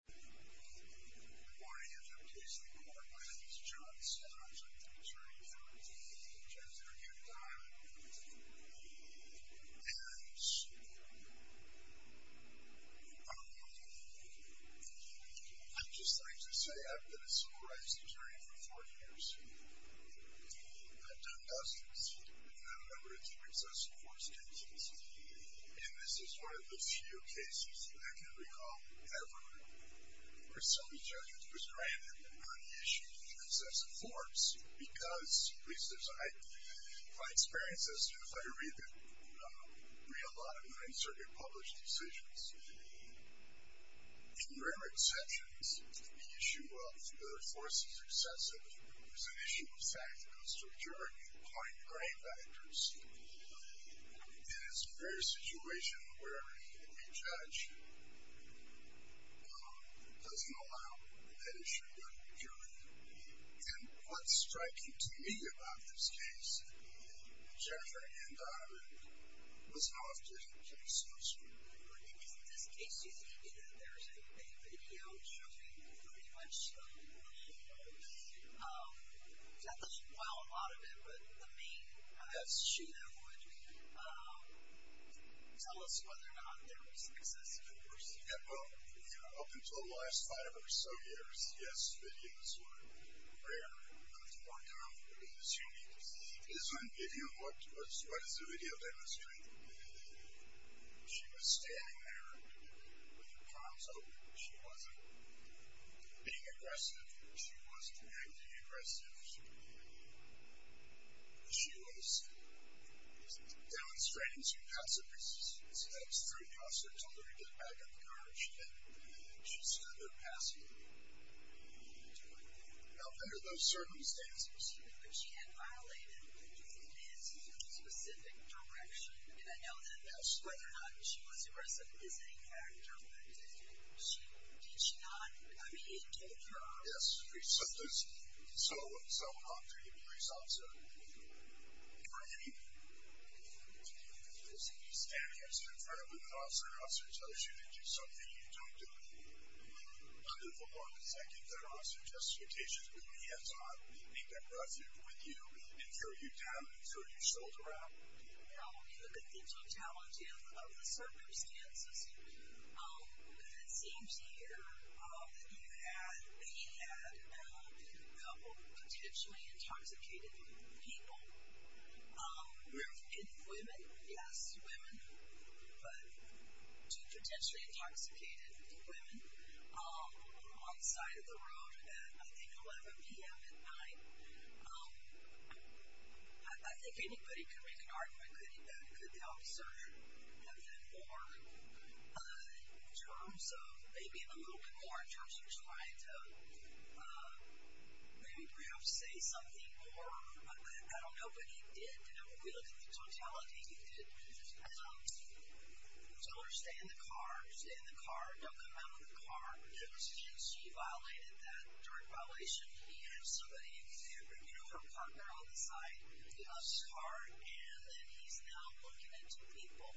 Good morning, Interim Case Record. My name is John Scott. I'm the attorney for Jennifer Hugh Donovan. And, I'm just like to say I've been a civil rights attorney for 40 years. I've done dozens, and I have a number of deep excessive force cases. And, this is one of the few cases that I can recall ever where somebody's argument was granted on the issue of deep excessive force. Because, at least as I do, my experience has been if I read a lot of the Ninth Circuit published decisions, in rare exceptions, the issue of whether a force is excessive is an issue of fact, when it comes to a juror, you point brain vectors. And, it's a rare situation where a judge doesn't allow that issue to be juried. And, what's striking to me about this case, Jennifer Hugh Donovan, was how often she speaks for the jury. I mean, isn't this case just unique in that there's a video showing pretty much the whole show. It's not that you can blow out a lot of it, but the main issue that would tell us whether or not there was excessive force. Yeah, well, up until the last five or so years, yes, videos were rare. But, if you want to know, it is unique. If you look, what does the video demonstrate? She was standing there with her palms open. She wasn't being aggressive. She wasn't acting aggressive. She was demonstrating some passive resistance. That was very passive. I told her to get back in the car, and she didn't. She stood there passively. Now, under those circumstances, she had violated his specific direction. And, I know that that's whether or not she was aggressive is a factor, but did she not? I mean, he told her. Yes. So, Audrey, please, I'm sorry. You were eating. She was standing next to her friend with her arms around her. She tells you to do something. You don't do it. Under the law, detective, there are also justifications. Wouldn't he have thought he'd been present with you and carried you down and turned his shoulder out? No. You look at the totality of the circumstances. It seems here that he had potentially intoxicated people. Women? Yes, women. Two potentially intoxicated women on the side of the road at, I think, 11 p.m. at night. I think anybody can make an argument that he could have done more, in terms of maybe a little bit more, in terms of trying to maybe perhaps say something more. I don't know, but he did. You know, if you look at the totality, he did tell her, stay in the car, stay in the car, don't come out of the car. It was his. He violated that direct violation. He had somebody, you know, from the other side get out of his car, and then he's now looking at two people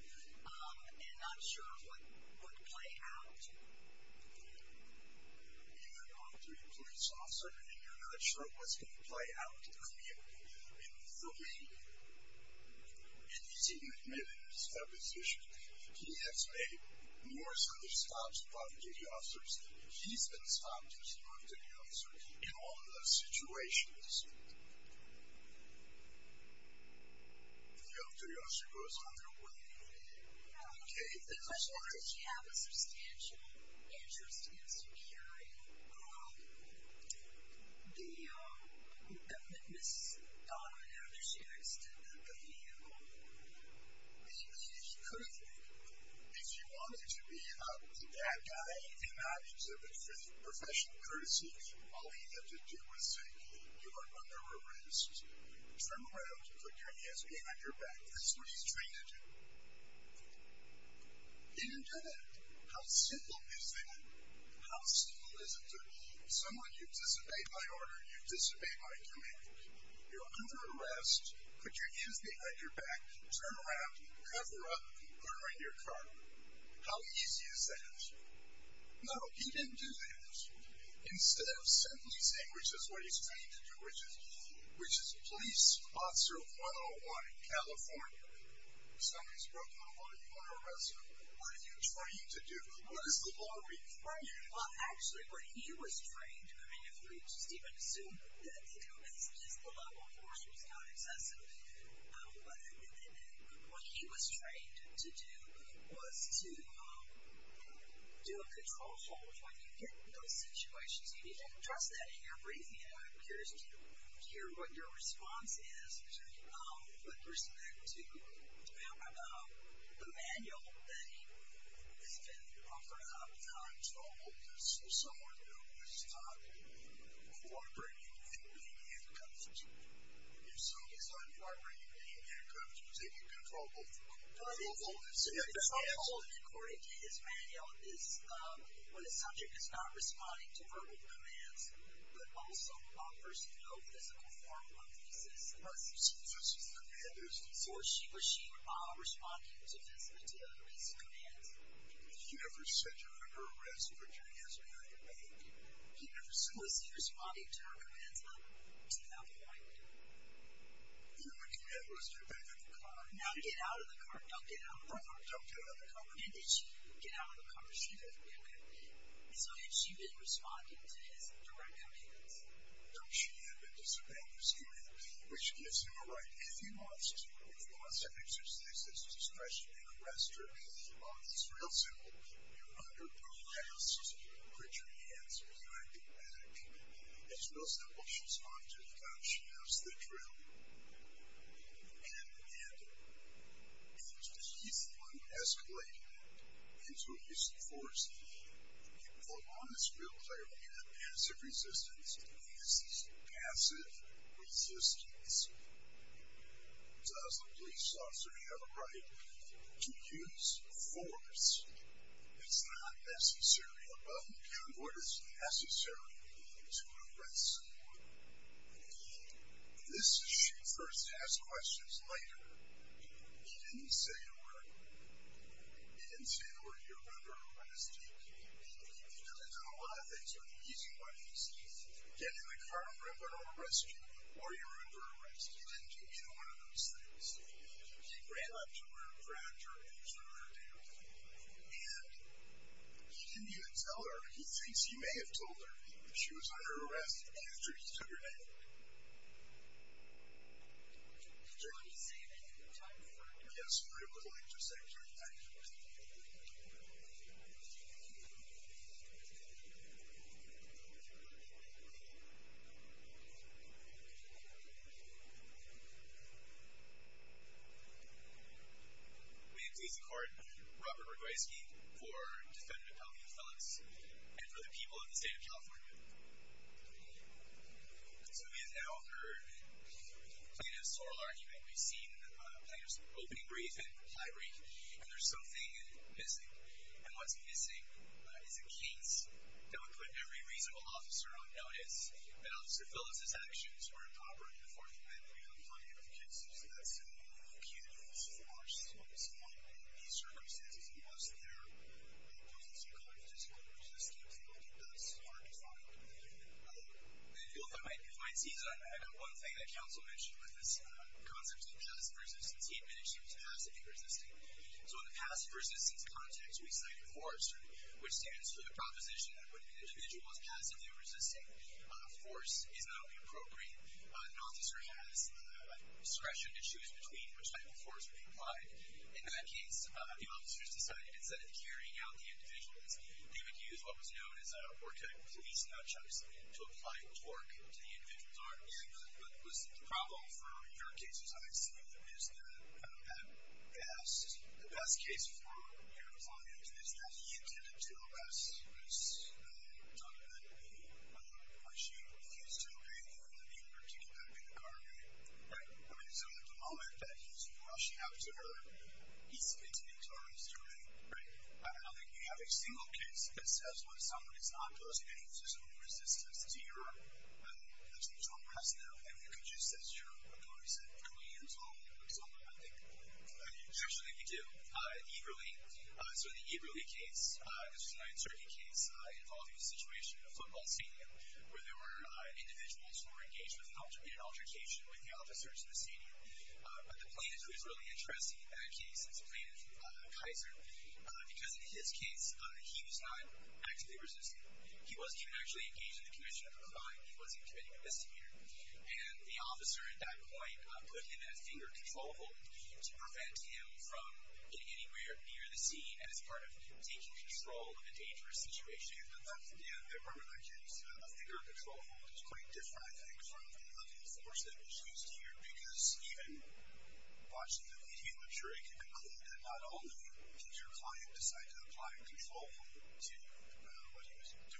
and not sure of what would play out. And, Audrey, please, also, you're not sure of what's going to play out in the meeting. And he's even admitted in his deposition, he has made more such stops to provocative officers than he's been stopped to as a provocative officer in all of those situations. The other officer goes on their way. Okay. I think the question was, did she have a substantial interest in securing the witness, and I don't know whether she actually did that, but he did. He could have been. If he wanted to be a bad guy and do not exhibit professional courtesy, all he had to do was say, you are under arrest. Turn around and put your hands behind your back. That's what he's trained to do. He didn't do that. How simple is that? How simple is it to someone you disobeyed my order, you disobeyed my command? You're under arrest. Put your hands behind your back. Turn around. Cover up. Put them in your car. How easy is that? No, he didn't do that. Instead of simply saying, which is what he's trained to do, which is police officer 101 in California. Somebody's broken the law. You're under arrest. What are you trying to do? What is the law requiring? Well, actually, what he was trained to do, I mean if we just even assume that to do this, because the law enforcement is not excessive, what he was trained to do was to do a control hold when you get into those situations. You need to trust that in your breathing. And I'm curious to hear what your response is to addressing that, to talk about the manual that he has been offered up. It's not a control hold. This is someone who is not cooperating in handcuffs. And so he's not cooperating in handcuffs. He's taking control of both of them. A control hold, according to his manual, is when a subject is not responding to verbal commands, but also offers no physical form of resistance. So she's not responding to verbal commands. Or she was responding to physical commands. Have you ever said you're under arrest for doing this behind your back? He never said that. So is he responding to her commands up to that point? He would do that once you're back in the car. Not to get out of the car. Don't get out of the car. Don't get out of the car. So did she get out of the car before you left? And so has she been responding to his direct commands? No, she had been disobeying his command, which gives him a right, if he wants to, if he wants to exercise his discretion and arrest her, on his real simple, you're under duress, put your hands behind your back. His real simple, she's not doing that. She knows the drill. And he's escalating it into a use of force. For one, it's real clear he had passive resistance. And this is passive resistance. Does the police officer have a right to use force? It's not necessary. A button is necessary to arrest someone. This is she first asked questions later. He didn't say to her, he didn't say to her, you're under arrest. He doesn't know a lot of things, but he's quite easy. Get in the car and we're going to arrest you, or you're under arrest. He didn't give you one of those things. He ran up to her and grabbed her and threw her down. And he didn't even tell her. He thinks he may have told her. She was under arrest after he took her down. Did you ever see him any more times? Yes. We were able to link him to a Secretary of Defense. My name is A.C. Carden. Robert Rogoyski for Defendant Apollo Phillips and for the people of the state of California. So we have now heard plaintiff's oral argument. We've seen the plaintiff's opening brief and high brief. And there's something missing. And what's missing is a case that would put every reasonable officer on notice. And Officer Phillips's actions were improper in the Fourth Amendment. We have a plenty of excuses. That's the beauty of force. So in these circumstances, we must bear the presence of confidence in what we're resisting. And I think that's hard to find. And I feel that might be fine. I got one thing that counsel mentioned with this concept of passive resistance. He admitted she was passively resisting. So in the passive resistance context, we cited force, which stands for the proposition that when an individual is passively resisting, force is not appropriate. An officer has discretion to choose between which type of force would be applied. In that case, the officers decided instead of carrying out the individuals, they would use what was known as a war-type police notch, obviously, to apply torque to the individual's arm. But, listen, the problem for your case, as I see it, is that the best case for your client is that he intended to, unless it was done at the point she refused to obey the order, they were taken back into custody. Right. I mean, so the moment that he's rushing out to her, he's intending to arrest her, right? Right. I don't think you have a single case that says when someone is not posing any physical resistance to your intentional rationale. I mean, could you say zero? I'm going to say three years old or something, I think. Actually, we do. In Iberli, so the Iberli case, this was a 9th Circuit case involving a situation, a football stadium, where there were individuals who were engaged in an altercation with the officers in the stadium. But the plaintiff who was really interested in that case, his plaintiff, Kaiser, because in his case, he was not actively resisting. He wasn't even actually engaged in the commission of the crime. He wasn't committing a misdemeanor. And the officer at that point put him in a finger control hold to prevent him from getting anywhere near the scene as part of taking control of a dangerous situation. The Iberli case, a finger control hold, was quite different, I think, from any other force that was used here, because even watching the video, I'm sure you can conclude that not only did your client decide to apply a control hold to what he was doing,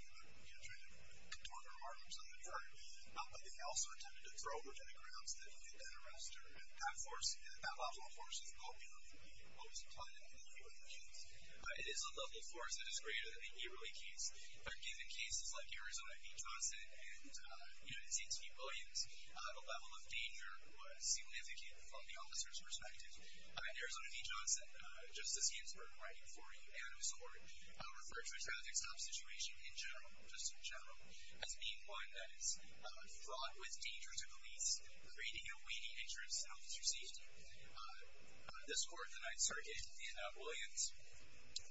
trying to control the remarks on the court, but they also attempted to throw him to the ground so that he could get arrested. And that force, that level of force is probably the most common in the Iberli case. It is a level of force that is greater than the Iberli case. In fact, even cases like Arizona v. Johnson and United States v. Williams, a level of danger was seemingly indicated from the officer's perspective. Arizona v. Johnson, Justice Ginsburg writing for you, and his court referred to a traffic stop situation in general, just in general, as being one that is fraught with danger to police, creating a waning interest in officers' safety. This court, the Ninth Circuit in Williams,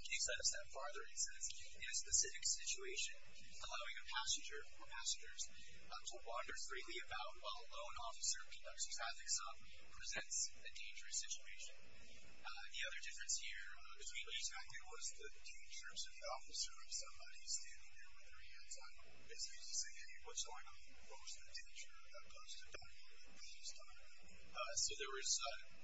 takes that a step farther and says, in a specific situation, allowing a passenger or passengers to wander freely about while a lone officer conducts a traffic stop presents a dangerous situation. The other difference here, as we looked at back there, was the dangers of the officer or somebody standing there with their hands up. It's easy to say, hey, what's going on? What was the danger posed to Donovan at this time? So there was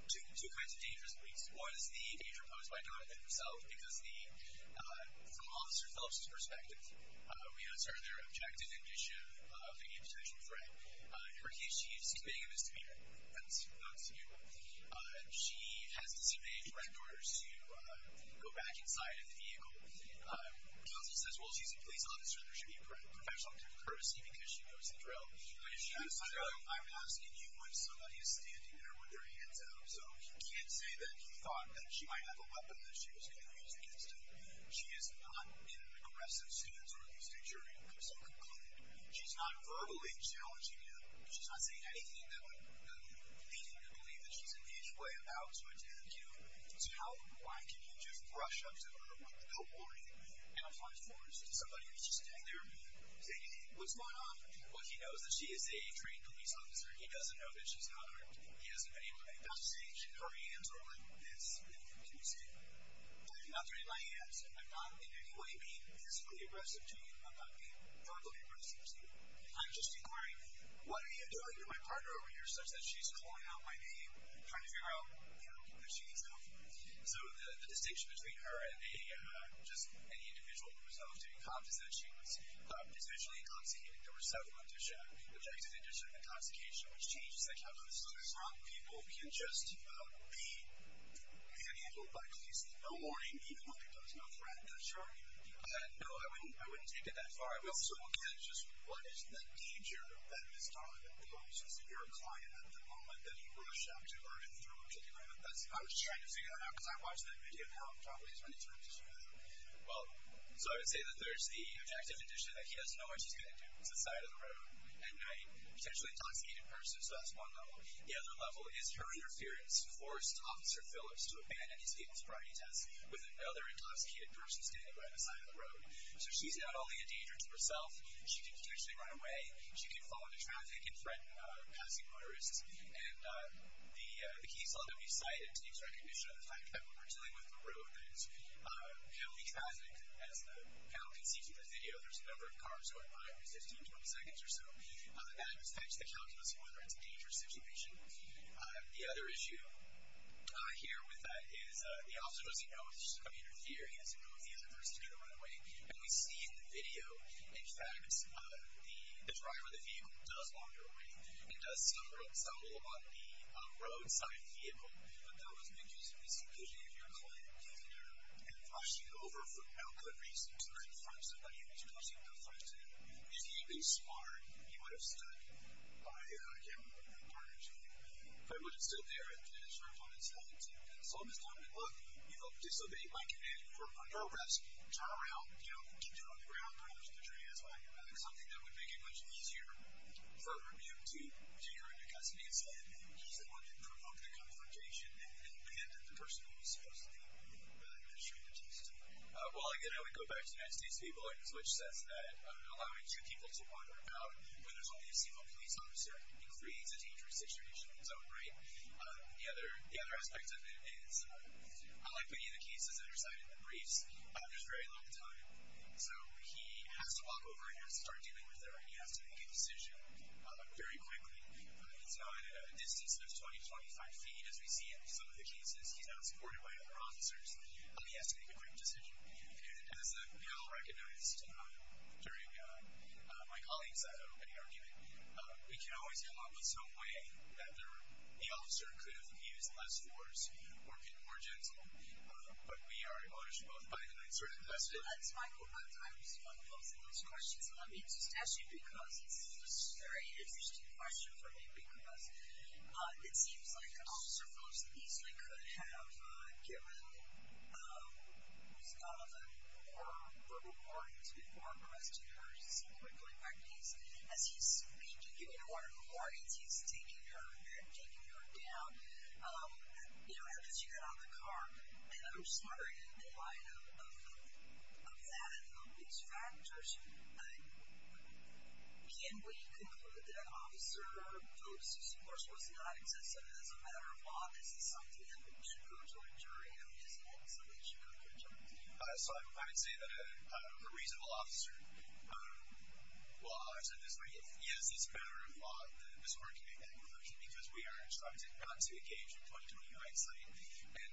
two kinds of dangers, at least. One was the danger posed by Donovan himself, because from Officer Phelps' perspective, we know it's her and their objective and mission of taking a potential threat. In her case, she is committing a misdemeanor. That was not a misdemeanor. She has disseminated threat orders to go back inside a vehicle. Donovan says, well, she's a police officer and there should be a professional courtesy because she knows the drill. But if she does the drill, I'm asking you when somebody is standing there with their hands up. So he can't say that he thought that she might have a weapon that she was going to use against him. She is not in an aggressive stance on the stage during a personal complaint. She's not verbally challenging him. She's not saying anything that would lead him to believe that she's in any way about to attack him. So why can't you just rush up to her with the co-ordinating and a fine-form and say, somebody needs to stand there and say, hey, what's going on? Well, he knows that she is a trained police officer. He doesn't know that she's not armed. He hasn't been able to make that distinction. Her hands are like this. Can you see it? I'm not doing it by hands. I'm not in any way being physically aggressive to him. I'm not being verbally aggressive to him. I'm just inquiring, what are you doing to my partner over here such that she's calling out my name, trying to figure out, you know, that she needs help. So the distinction between her and just any individual who was doing confiscations, especially in consecuting, there were several cases where he was able to show objective addition of intoxication, which changes the conduct. So these wrong people can just be handled by police with no warning, even when they come to know threat. That's right. No, I wouldn't take it that far. We also can't just, what is the danger that this dominant police is your client at the moment that you rush up to her and throw a kick at her. I was just trying to figure that out because I watched that video probably as many times as you have. Well, so I would say that there's the objective addition that he has no idea what she's going to do. It's the side of the road at night. Potentially intoxicated person. So that's one level. The other level is her interference forced Officer Phillips to abandon his Gaten's priority test with another intoxicated person standing by the side of the road. So she's got all the endanger to herself. She can potentially run away. She can fall into traffic and threaten passing motorists. And the key is not to be sighted. It takes recognition of the fact that when we're dealing with the road that is heavily trafficked, as the panel can see through the video, there's a number of cars going by every 15, 20 seconds or so. That affects the calculus of whether it's a dangerous situation. The other issue here with that is the officer doesn't know if she's going to interfere. He doesn't know if the other person is going to run away. And we see in the video, in fact, the driver of the vehicle does wander away and does suffer a little on the roadside vehicle. But that was an injustice because you have your client in there and he's rushing over for no good reason to try to find somebody who's causing no fuss to him. If he'd be smart, he would have stood by the other car in front of him. But he wouldn't sit there and serve on his hands. So in this time, he'd look, you know, disobey my command, you know, drive around, you know, get you on the ground, crash into the tree as well. I think something that would make it much easier for a review to take her into custody instead is if they wanted to provoke the confrontation and the person who was supposed to be in that position to testify. Well, again, I would go back to Nancy's people, which says that allowing two people to wander about when there's only a single police officer, it creates a dangerous situation in its own right. The other aspect of it is, unlike many of the cases that are cited in the briefs, there's very little time. So he has to walk over and has to start dealing with her, and he has to make a decision very quickly. He's not at a distance of 20 to 25 feet, as we see in some of the cases. He's not supported by other officers. He has to make a quick decision. And as we all recognized during my colleagues' opening argument, we can always come up with some way that the officer could have used less force or been more gentle. But we are in ownership of both, by the way. Sir, go ahead. Thanks, Michael. I was going to ask both of those questions. Let me just ask you, because this is a very interesting question for me, because it seems like the officer most easily could have given him more verbal warnings before arresting her simply by going back to Nancy. As he's repeatedly giving her more warnings, he's taking her down. You know, as soon as you get out of the car, And I'm just wondering, in the light of that and all these factors, can we conclude that an officer's focus, of course, was not excessive as a matter of law? Is this something that we should go to a jury and decide, so that she could have been gentle? So I would say that a reasonable officer, well, I'll say this. Yes, it's a matter of law that this court can make that conclusion, because we are instructed not to engage with 20 to 25 feet. And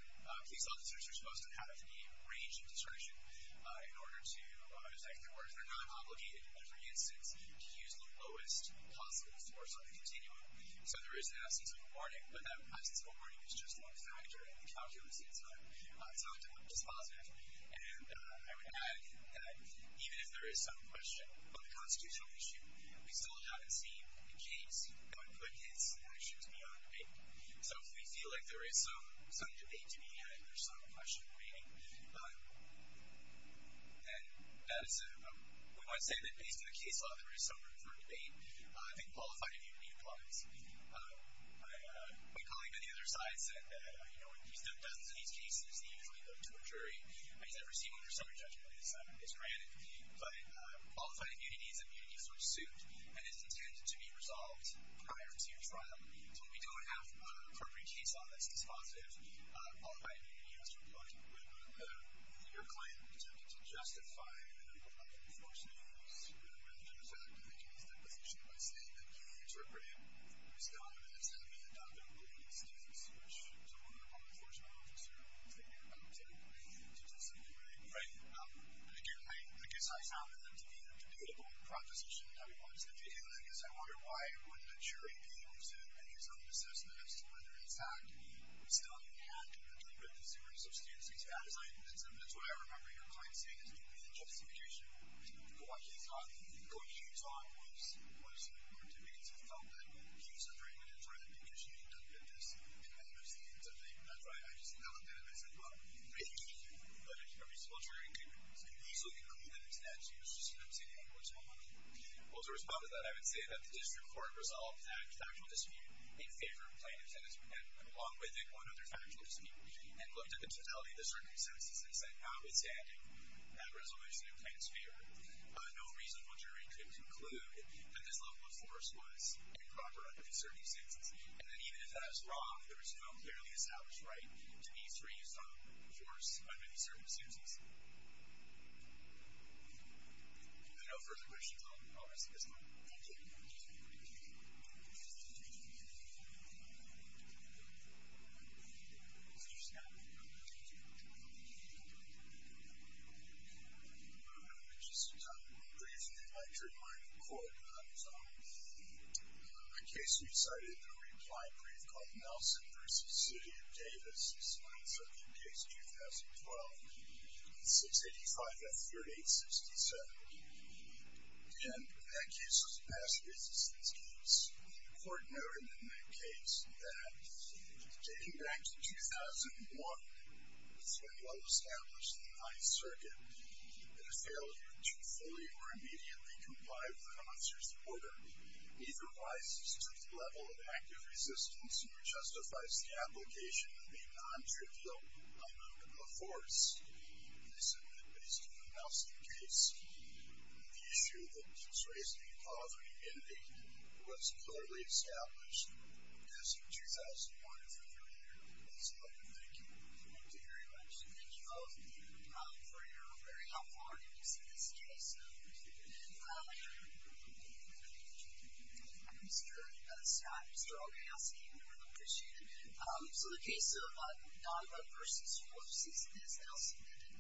police officers are supposed to have the range of discretion in order to detect their work. They're not obligated, for instance, to use the lowest possible force on the continuum. So there is an absence of a warning, but that absence of a warning is just one factor in the calculus. It's not just positive. And I would add that even if there is some question on the constitutional issue, we still haven't seen the case that would put his actions beyond debate. So if we feel like there is some debate to be had, there's some question remaining. And that is, we might say that based on the case law, there is some room for debate. I think qualified immunity applies. My colleague on the other side said that, you know, in dozens of these cases, you usually go to a jury, because they're receiving their second judgment. It's granted. But qualified immunity is a immunity for suit, and it's intended to be resolved prior to trial. So if we don't have an appropriate case law that's dispositive, qualified immunity has to apply. Right. Your claim tended to justify the level of enforcement abuse, rather than the fact that they can use deposition by saying that you interpreted Ms. Gomez as having adopted a warning stance, which is one of the level of enforcement I'm concerned with, taking it up to discipline rate. Right. And again, I guess I found that to be a debatable proposition that we wanted to debate. But I guess I wonder why wouldn't a jury be able to make its own assessment as to whether, in fact, Ms. Gomez had to interpret Ms. Gomez's substantive status. I mean, that's what I remember your client saying, is that the justification for what she thought, according to you, Tom, was important to you, because you felt that he was under an injury, because she could interpret this in a different way. That's right. I just felt that it was, well, maybe, but if a researcher could easily conclude that his stance was just an obscene one, what's wrong with it? Well, to respond to that, I would say that the district court resolved that factual dispute in favor of plaintiff's sentence, and along with it, one other factual dispute, and looked at the totality of the circumstances and said, notwithstanding that resolution in plaintiff's favor, no reasonable jury could conclude that this level of force was improper under these circumstances. And that even if that is wrong, there is no clearly established right to be free from force under these circumstances. All right. I know further questions. All right. That's good. Thank you. Is there a snap? No. Just a time of brief, and then I'd like to remind the court that in the case we decided, the required brief called Nelson v. City of Davis, and that's up in case 2012, 685-3867. And that case was a past business case. The court noted in that case that, taking back to 2001, this went well established in the Ninth Circuit, but a failure to fully or immediately comply with the officer's order neither rises to the level of active resistance nor justifies the application of a non-trivial amendment of force. And I submit that, based on the Nelson case, the issue that was raised in the call for an amendment was clearly established as of 2001, if I'm correct. Thanks a lot. Thank you. Thank you very much. Thank you all for your very helpful arguments in this case. Thank you. Thank you. Mr. Scott, Mr. Olkowski, we appreciate it. So in the case of Naga v. Horses, as Nelson did,